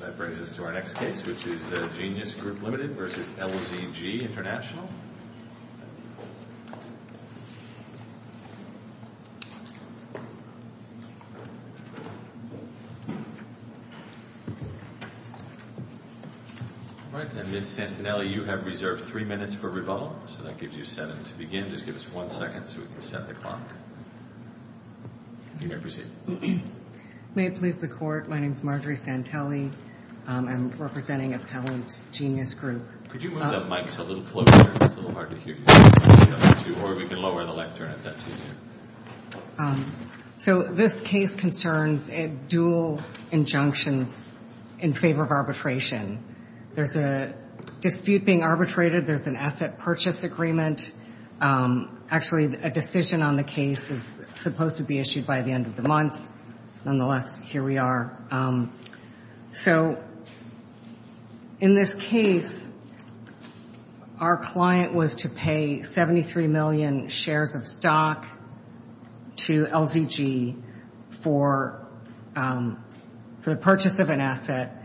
That brings us to our next case, which is Genius Group Limited v. LZG International. All right, and Ms. Santinelli, you have reserved three minutes for rebuttal. So that gives you seven to begin. Just give us one second so we can set the clock. You may proceed. May it please the Court, my name is Marjorie Santelli. I'm representing Appellant Genius Group. Could you move the mic so it will float? It's a little hard to hear you. Or we can lower the lectern if that's easier. So this case concerns dual injunctions in favor of arbitration. There's a dispute being arbitrated. There's an asset purchase agreement. Actually, a decision on the case is supposed to be issued by the end of the month. Nonetheless, here we are. So in this case, our client was to pay 73 million shares of stock to LZG for the purchase of an asset.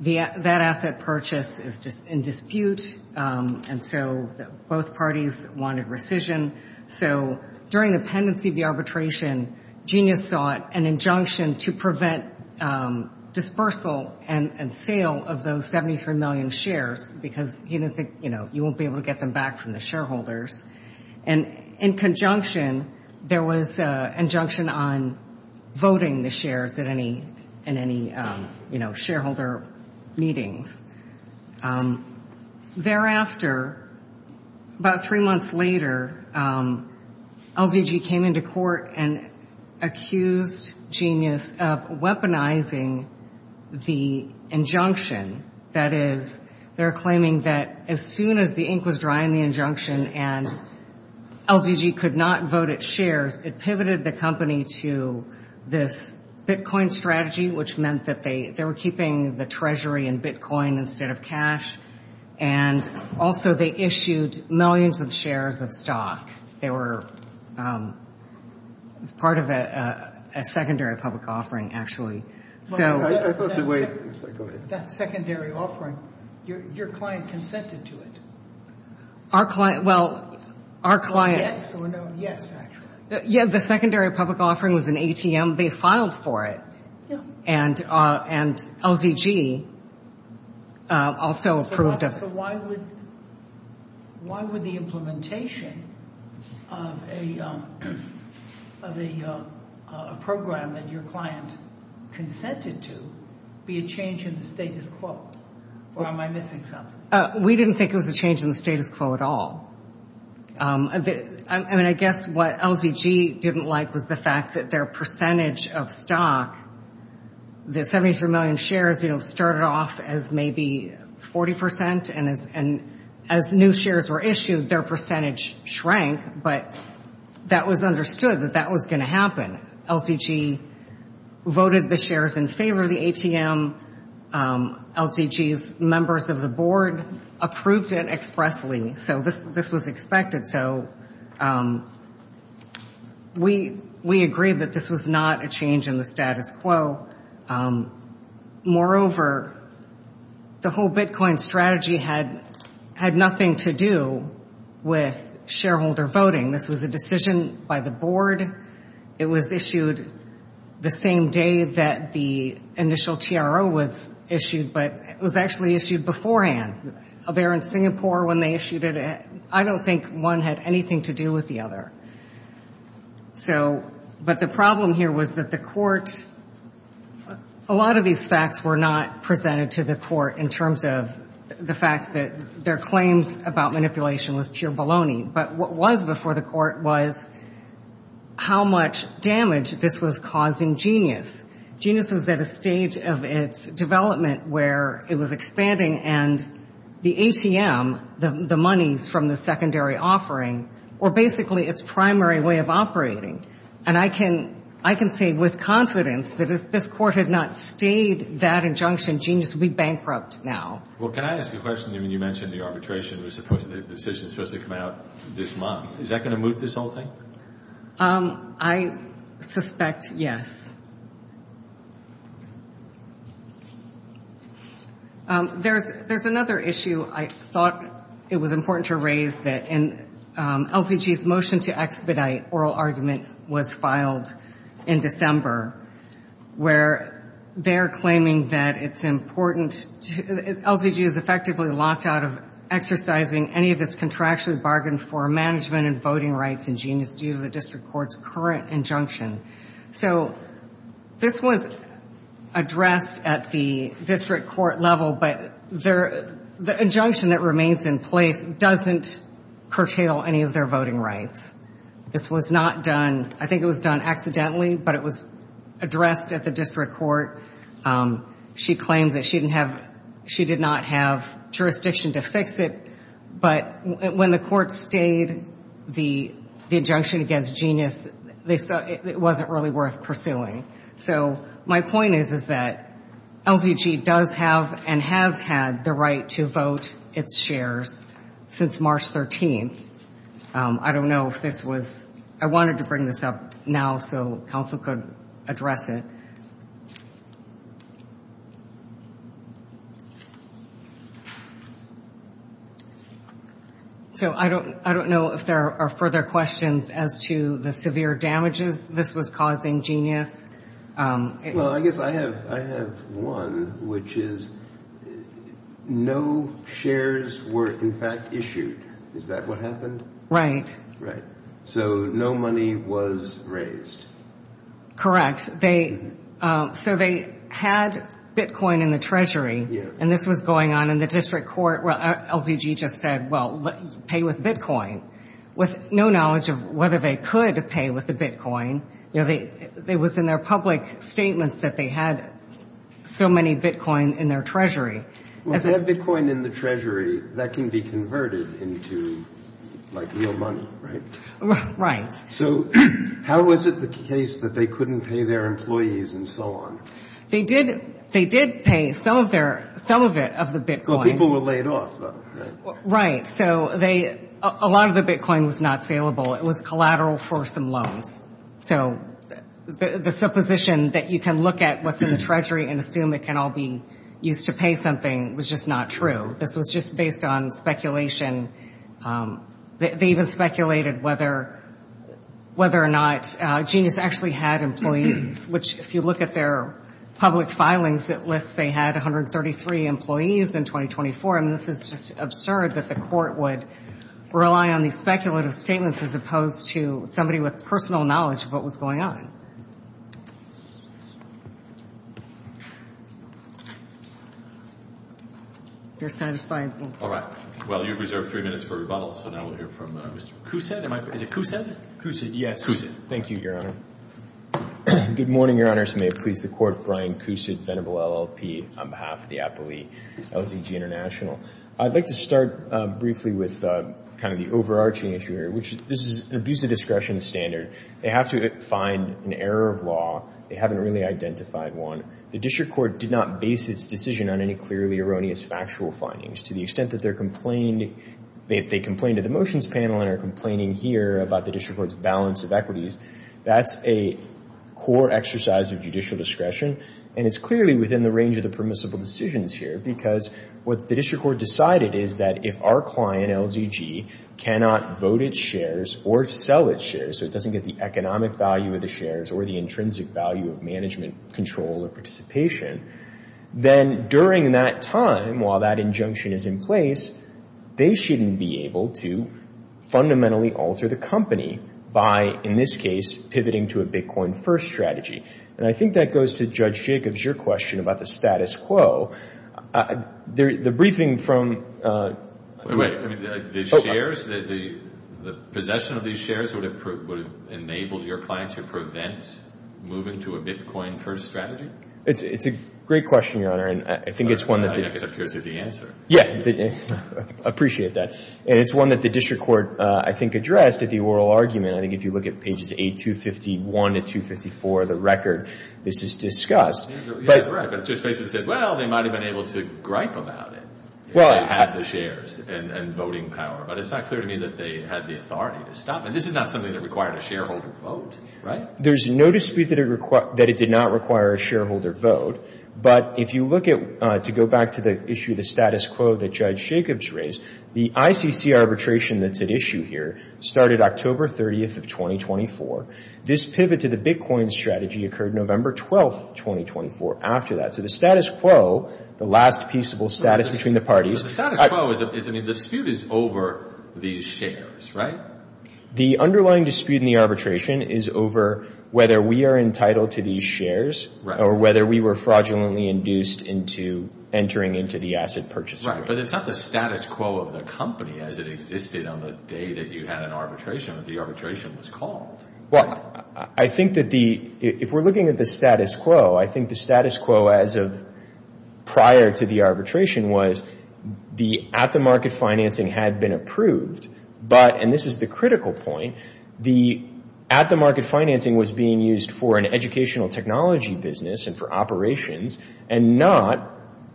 That asset purchase is in dispute, and so both parties wanted rescission. So during the pendency of the arbitration, Genius sought an injunction to prevent dispersal and sale of those 73 million shares because he didn't think you won't be able to get them back from the shareholders. And in conjunction, there was an injunction on voting the shares in any shareholder meetings. Thereafter, about three months later, LZG came into court and accused Genius of weaponizing the injunction. That is, they're claiming that as soon as the ink was dry in the injunction and LZG could not vote its shares, it pivoted the company to this Bitcoin strategy, which meant that they were keeping the treasury in Bitcoin instead of cash. And also, they issued millions of shares of stock. They were part of a secondary public offering, actually. That secondary offering, your client consented to it? Our client, well, our client... Yes or no? Yes, actually. Yeah, the secondary public offering was an ATM. They filed for it. Yeah. And LZG also approved of it. So why would the implementation of a program that your client consented to be a change in the status quo? Or am I missing something? We didn't think it was a change in the status quo at all. I mean, I guess what LZG didn't like was the fact that their percentage of stock, the 73 million shares started off as maybe 40%, and as new shares were issued, their percentage shrank. But that was understood that that was going to happen. LZG voted the shares in favor of the ATM. LZG's members of the board approved it expressly. So this was expected. So we agreed that this was not a change in the status quo. Moreover, the whole Bitcoin strategy had nothing to do with shareholder voting. This was a decision by the board. It was issued the same day that the initial TRO was issued, but it was actually issued beforehand. They were in Singapore when they issued it. I don't think one had anything to do with the other. But the problem here was that the court, a lot of these facts were not presented to the court in terms of the fact that their claims about manipulation was pure baloney. But what was before the court was how much damage this was causing Genius. Genius was at a stage of its development where it was expanding, and the ATM, the monies from the secondary offering, were basically its primary way of operating. And I can say with confidence that if this court had not stayed that injunction, Genius would be bankrupt now. Well, can I ask a question? I mean, you mentioned the arbitration. The decision was supposed to come out this month. Is that going to move this whole thing? I suspect yes. There's another issue I thought it was important to raise, and LCG's motion to expedite oral argument was filed in December, where they're claiming that it's important. LCG is effectively locked out of exercising any of its contractually bargained for management and voting rights in Genius due to the district court's current injunction. So this was addressed at the district court level, but the injunction that remains in place doesn't curtail any of their voting rights. This was not done. I think it was done accidentally, but it was addressed at the district court. She claimed that she did not have jurisdiction to fix it, but when the court stayed the injunction against Genius, it wasn't really worth pursuing. So my point is that LCG does have and has had the right to vote its shares since March 13th. I don't know if this was ‑‑ I wanted to bring this up now so counsel could address it. So I don't know if there are further questions as to the severe damages this was causing Genius. Well, I guess I have one, which is no shares were in fact issued. Is that what happened? Right. So no money was raised. So they had bitcoin in the treasury, and this was going on in the district court. Well, LCG just said, well, pay with bitcoin. With no knowledge of whether they could pay with the bitcoin, it was in their public statements that they had so many bitcoin in their treasury. Well, to have bitcoin in the treasury, that can be converted into, like, real money, right? Right. So how was it the case that they couldn't pay their employees and so on? They did pay some of it of the bitcoin. Well, people were laid off, though, right? Right. So a lot of the bitcoin was not saleable. It was collateral for some loans. So the supposition that you can look at what's in the treasury and assume it can all be used to pay something was just not true. This was just based on speculation. They even speculated whether or not Genius actually had employees, which if you look at their public filings, it lists they had 133 employees in 2024. And this is just absurd that the Court would rely on these speculative statements as opposed to somebody with personal knowledge of what was going on. If you're satisfied. All right. Well, you've reserved three minutes for rebuttal, so now we'll hear from Mr. Cousett. Is it Cousett? Cousett, yes. Cousett. Thank you, Your Honor. Good morning, Your Honors. May it please the Court, Brian Cousett, venerable LLP, on behalf of the appellee, LZG International. I'd like to start briefly with kind of the overarching issue here, which is this is an abuse of discretion standard. They have to find an error of law. They haven't really identified one. The district court did not base its decision on any clearly erroneous factual findings. To the extent that they complained to the motions panel and are complaining here about the district court's balance of equities, that's a core exercise of judicial discretion, and it's clearly within the range of the permissible decisions here because what the district court decided is that if our client, LZG, cannot vote its shares or sell its shares, so it doesn't get the economic value of the shares or the intrinsic value of management control or participation, then during that time, while that injunction is in place, they shouldn't be able to fundamentally alter the company by, in this case, pivoting to a Bitcoin-first strategy. And I think that goes to Judge Jacobs, your question about the status quo. The briefing from... Wait a minute. The shares, the possession of these shares would have enabled your client to prevent moving to a Bitcoin-first strategy? It's a great question, Your Honor, and I think it's one that... I guess I'm curious of the answer. Yeah. I appreciate that. And it's one that the district court, I think, addressed at the oral argument. I think if you look at pages 851 to 254 of the record, this is discussed. Yeah, correct. But it just basically said, well, they might have been able to gripe about it, if they had the shares and voting power. But it's not clear to me that they had the authority to stop it. This is not something that required a shareholder vote, right? There's no dispute that it did not require a shareholder vote. But if you look at, to go back to the issue of the status quo that Judge Jacobs raised, the ICC arbitration that's at issue here started October 30th of 2024. This pivot to the Bitcoin strategy occurred November 12th, 2024, after that. So the status quo, the last peaceable status between the parties... The status quo, I mean, the dispute is over these shares, right? The underlying dispute in the arbitration is over whether we are entitled to these shares or whether we were fraudulently induced into entering into the asset purchase agreement. Right, but it's not the status quo of the company as it existed on the day that you had an arbitration, that the arbitration was called. Well, I think that if we're looking at the status quo, I think the status quo as of prior to the arbitration was the at-the-market financing had been approved, but, and this is the critical point, the at-the-market financing was being used for an educational technology business and for operations and not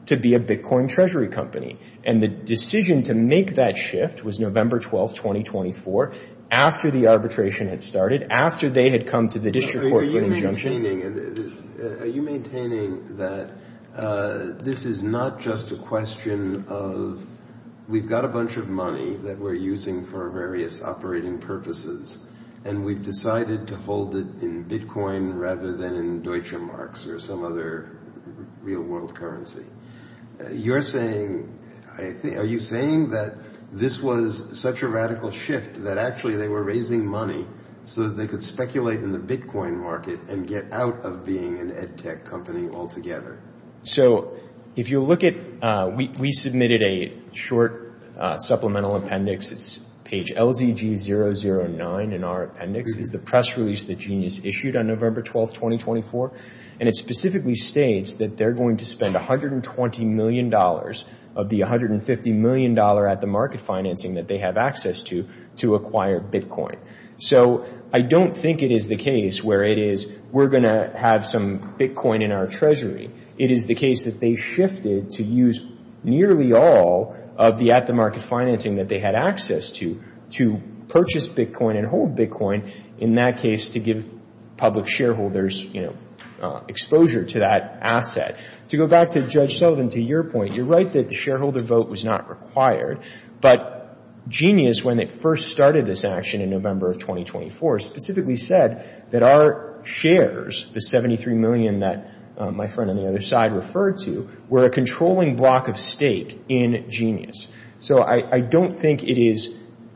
to be a Bitcoin treasury company. And the decision to make that shift was November 12th, 2024, after the arbitration had started, after they had come to the district court for an injunction. Are you maintaining that this is not just a question of, we've got a bunch of money that we're using for various operating purposes and we've decided to hold it in Bitcoin rather than in Deutsche Marks or some other real-world currency. You're saying, are you saying that this was such a radical shift that actually they were raising money so that they could speculate in the Bitcoin market and get out of being an ed-tech company altogether? So if you look at, we submitted a short supplemental appendix. It's page LZG009 in our appendix. It's the press release that Genius issued on November 12th, 2024. And it specifically states that they're going to spend $120 million of the $150 million at-the-market financing that they have access to to acquire Bitcoin. So I don't think it is the case where it is, we're going to have some Bitcoin in our treasury. It is the case that they shifted to use nearly all of the at-the-market financing that they had access to to purchase Bitcoin and hold Bitcoin, in that case to give public shareholders exposure to that asset. To go back to Judge Sullivan, to your point, you're right that the shareholder vote was not required. But Genius, when it first started this action in November of 2024, specifically said that our shares, the $73 million that my friend on the other side referred to, were a controlling block of stake in Genius. So I don't think it is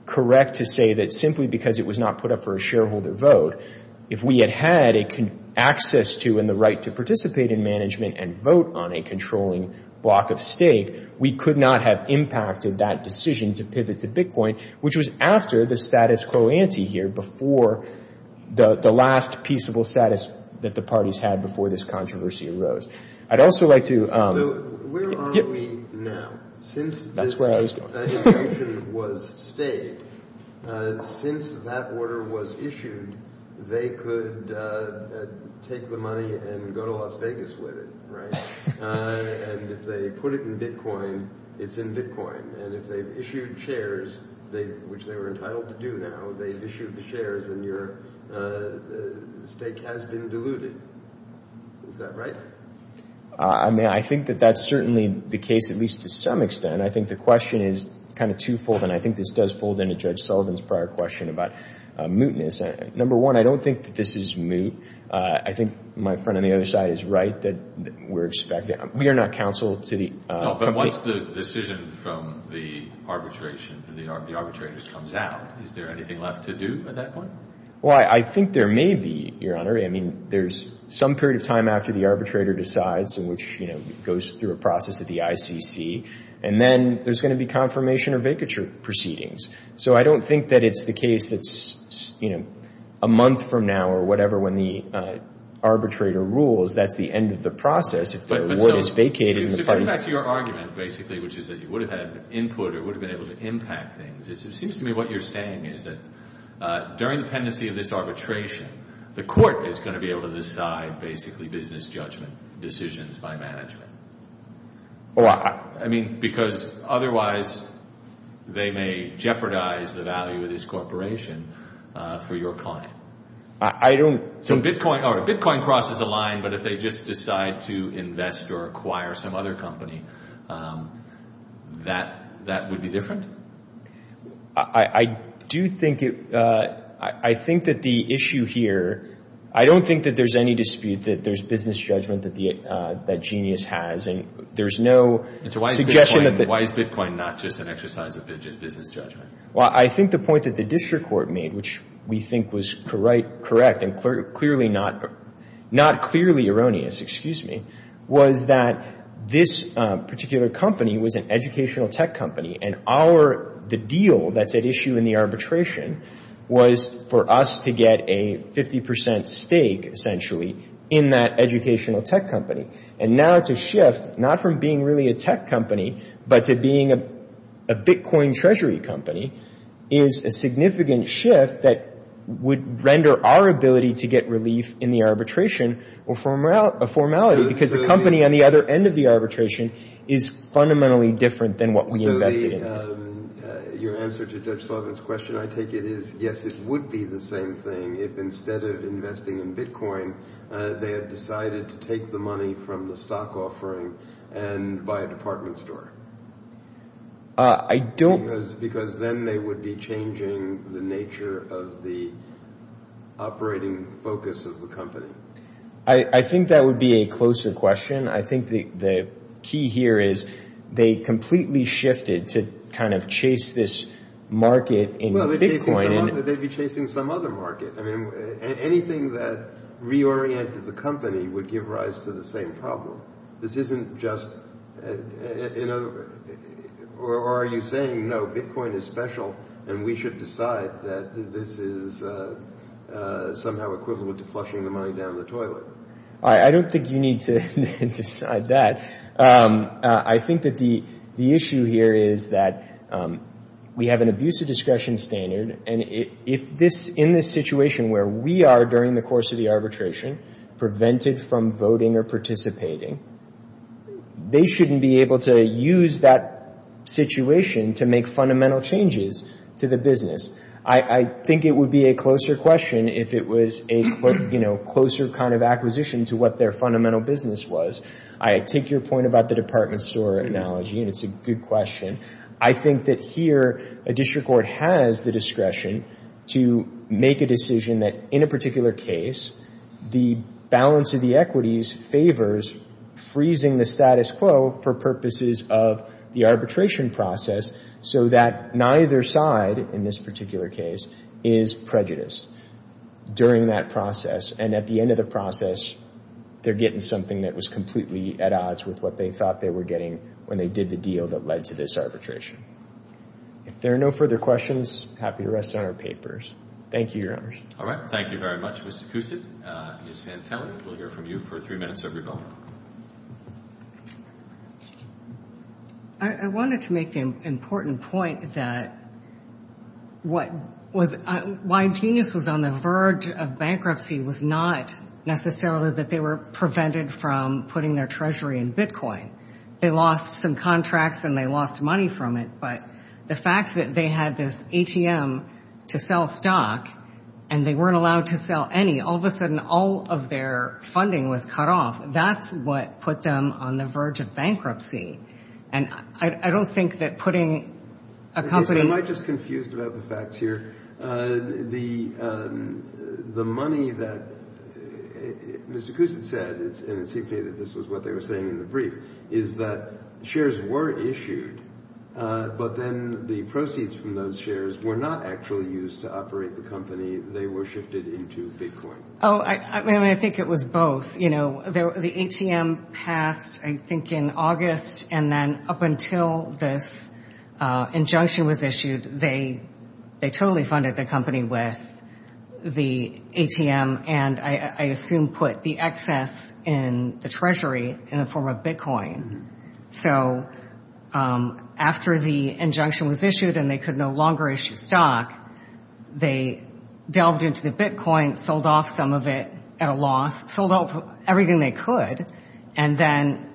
correct to say that simply because it was not put up for a shareholder vote, if we had had access to and the right to participate in management and vote on a controlling block of stake, we could not have impacted that decision to pivot to Bitcoin, which was after the status quo ante here, before the last peaceable status that the parties had before this controversy arose. I'd also like to... So where are we now? Since this action was stayed, since that order was issued, they could take the money and go to Las Vegas with it, right? And if they put it in Bitcoin, it's in Bitcoin. And if they've issued shares, which they were entitled to do now, they've issued the shares and your stake has been diluted. Is that right? I think that that's certainly the case, at least to some extent. I think the question is kind of twofold, and I think this does fold into Judge Sullivan's prior question about mootness. Number one, I don't think that this is moot. I think my friend on the other side is right that we're expecting... We are not counsel to the... But once the decision from the arbitration, the arbitrators comes out, is there anything left to do at that point? Well, I think there may be, Your Honor. I mean, there's some period of time after the arbitrator decides and which goes through a process of the ICC, and then there's going to be confirmation or vacature proceedings. So I don't think that it's the case that's a month from now or whatever when the arbitrator rules, that's the end of the process if the award is vacated. So going back to your argument, basically, which is that you would have had input or would have been able to impact things, it seems to me what you're saying is that during the pendency of this arbitration, the court is going to be able to decide basically business judgment decisions by management. I mean, because otherwise they may jeopardize the value of this corporation for your client. I don't... So Bitcoin crosses a line, but if they just decide to invest or acquire some other company, that would be different? I do think it... I think that the issue here... I don't think that there's any dispute that there's business judgment that Genius has, and there's no suggestion that... So why is Bitcoin not just an exercise of business judgment? Well, I think the point that the district court made, which we think was correct and clearly not... not clearly erroneous, excuse me, was that this particular company was an educational tech company, and our... the deal that's at issue in the arbitration was for us to get a 50% stake, essentially, in that educational tech company. And now it's a shift, not from being really a tech company, but to being a Bitcoin treasury company, is a significant shift that would render our ability to get relief in the arbitration a formality, because the company on the other end of the arbitration is fundamentally different than what we invested in. So the... your answer to Judge Sullivan's question, I take it, is yes, it would be the same thing if instead of investing in Bitcoin, they had decided to take the money from the stock offering and buy a department store. I don't... Because then they would be changing the nature of the operating focus of the company. I think that would be a closer question. I think the key here is they completely shifted to kind of chase this market in Bitcoin. Well, they'd be chasing some other market. I mean, anything that reoriented the company would give rise to the same problem. This isn't just... you know, or are you saying, no, Bitcoin is special, and we should decide that this is somehow equivalent to flushing the money down the toilet? I don't think you need to decide that. I think that the issue here is that we have an abusive discretion standard, and if this... in this situation where we are, during the course of the arbitration, prevented from voting or participating, they shouldn't be able to use that situation to make fundamental changes to the business. I think it would be a closer question if it was a closer kind of acquisition to what their fundamental business was. I take your point about the department store analogy, and it's a good question. I think that here, a district court has the discretion to make a decision that, in a particular case, the balance of the equities favors freezing the status quo for purposes of the arbitration process, so that neither side, in this particular case, is prejudiced during that process. And at the end of the process, they're getting something that was completely at odds with what they thought they were getting when they did the deal that led to this arbitration. If there are no further questions, happy to rest on our papers. Thank you, Your Honors. All right. Thank you very much, Mr. Cousett. Ms. Santelli, we'll hear from you for three minutes of your time. I wanted to make the important point that what was... why Genius was on the verge of bankruptcy was not necessarily that they were prevented from putting their treasury in Bitcoin. They lost some contracts and they lost money from it, but the fact that they had this ATM to sell stock and they weren't allowed to sell any, all of a sudden, all of their funding was cut off, that's what put them on the verge of bankruptcy. And I don't think that putting a company... Am I just confused about the facts here? The money that Mr. Cousett said, and it seemed to me that this was what they were saying in the brief, is that shares were issued, but then the proceeds from those shares were not actually used to operate the company. They were shifted into Bitcoin. Oh, I mean, I think it was both. You know, the ATM passed, I think, in August, and then up until this injunction was issued, they totally funded the company with the ATM and, I assume, put the excess in the treasury in the form of Bitcoin. So after the injunction was issued and they could no longer issue stock, they delved into the Bitcoin, sold off some of it at a loss, sold off everything they could, and then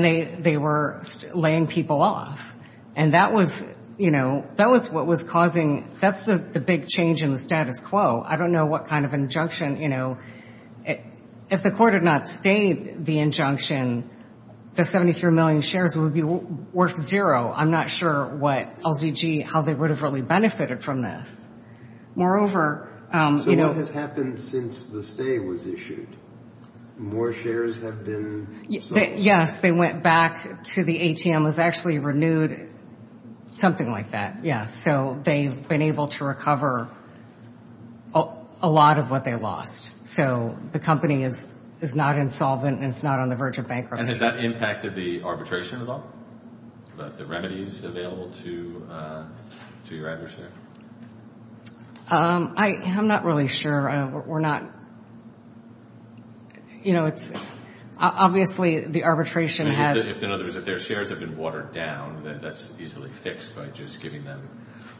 they were laying people off. And that was, you know, that was what was causing... That's the big change in the status quo. I don't know what kind of injunction, you know... If the court had not stayed the injunction, the 73 million shares would be worth zero. I'm not sure what LZG, how they would have really benefited from this. Moreover, you know... So what has happened since the stay was issued? More shares have been sold? Yes, they went back to the ATM. It was actually renewed, something like that, yes. So they've been able to recover a lot of what they lost. So the company is not insolvent and it's not on the verge of bankruptcy. And has that impacted the arbitration at all? The remedies available to your adversary? I'm not really sure. We're not, you know, it's obviously the arbitration had... In other words, if their shares have been watered down, that's easily fixed by just giving them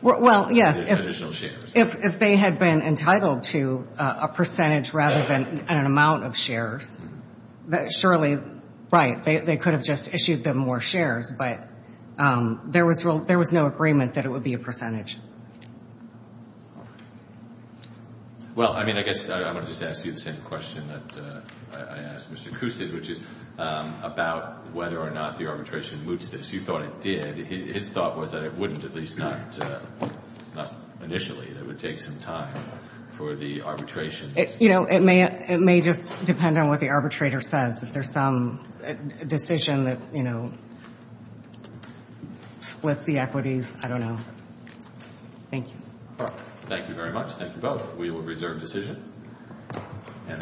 additional shares. Well, yes, if they had been entitled to a percentage rather than an amount of shares, surely, right, they could have just issued them more shares, but there was no agreement that it would be a percentage. Well, I mean, I guess I want to just ask you the same question that I asked Mr. Kucin, which is about whether or not the arbitration moots this. You thought it did. His thought was that it wouldn't, at least not initially, that it would take some time for the arbitration. You know, it may just depend on what the arbitrator says. If there's some decision that, you know, splits the equities, I don't know. Thank you. Thank you very much. Thank you both. We will reserve decision.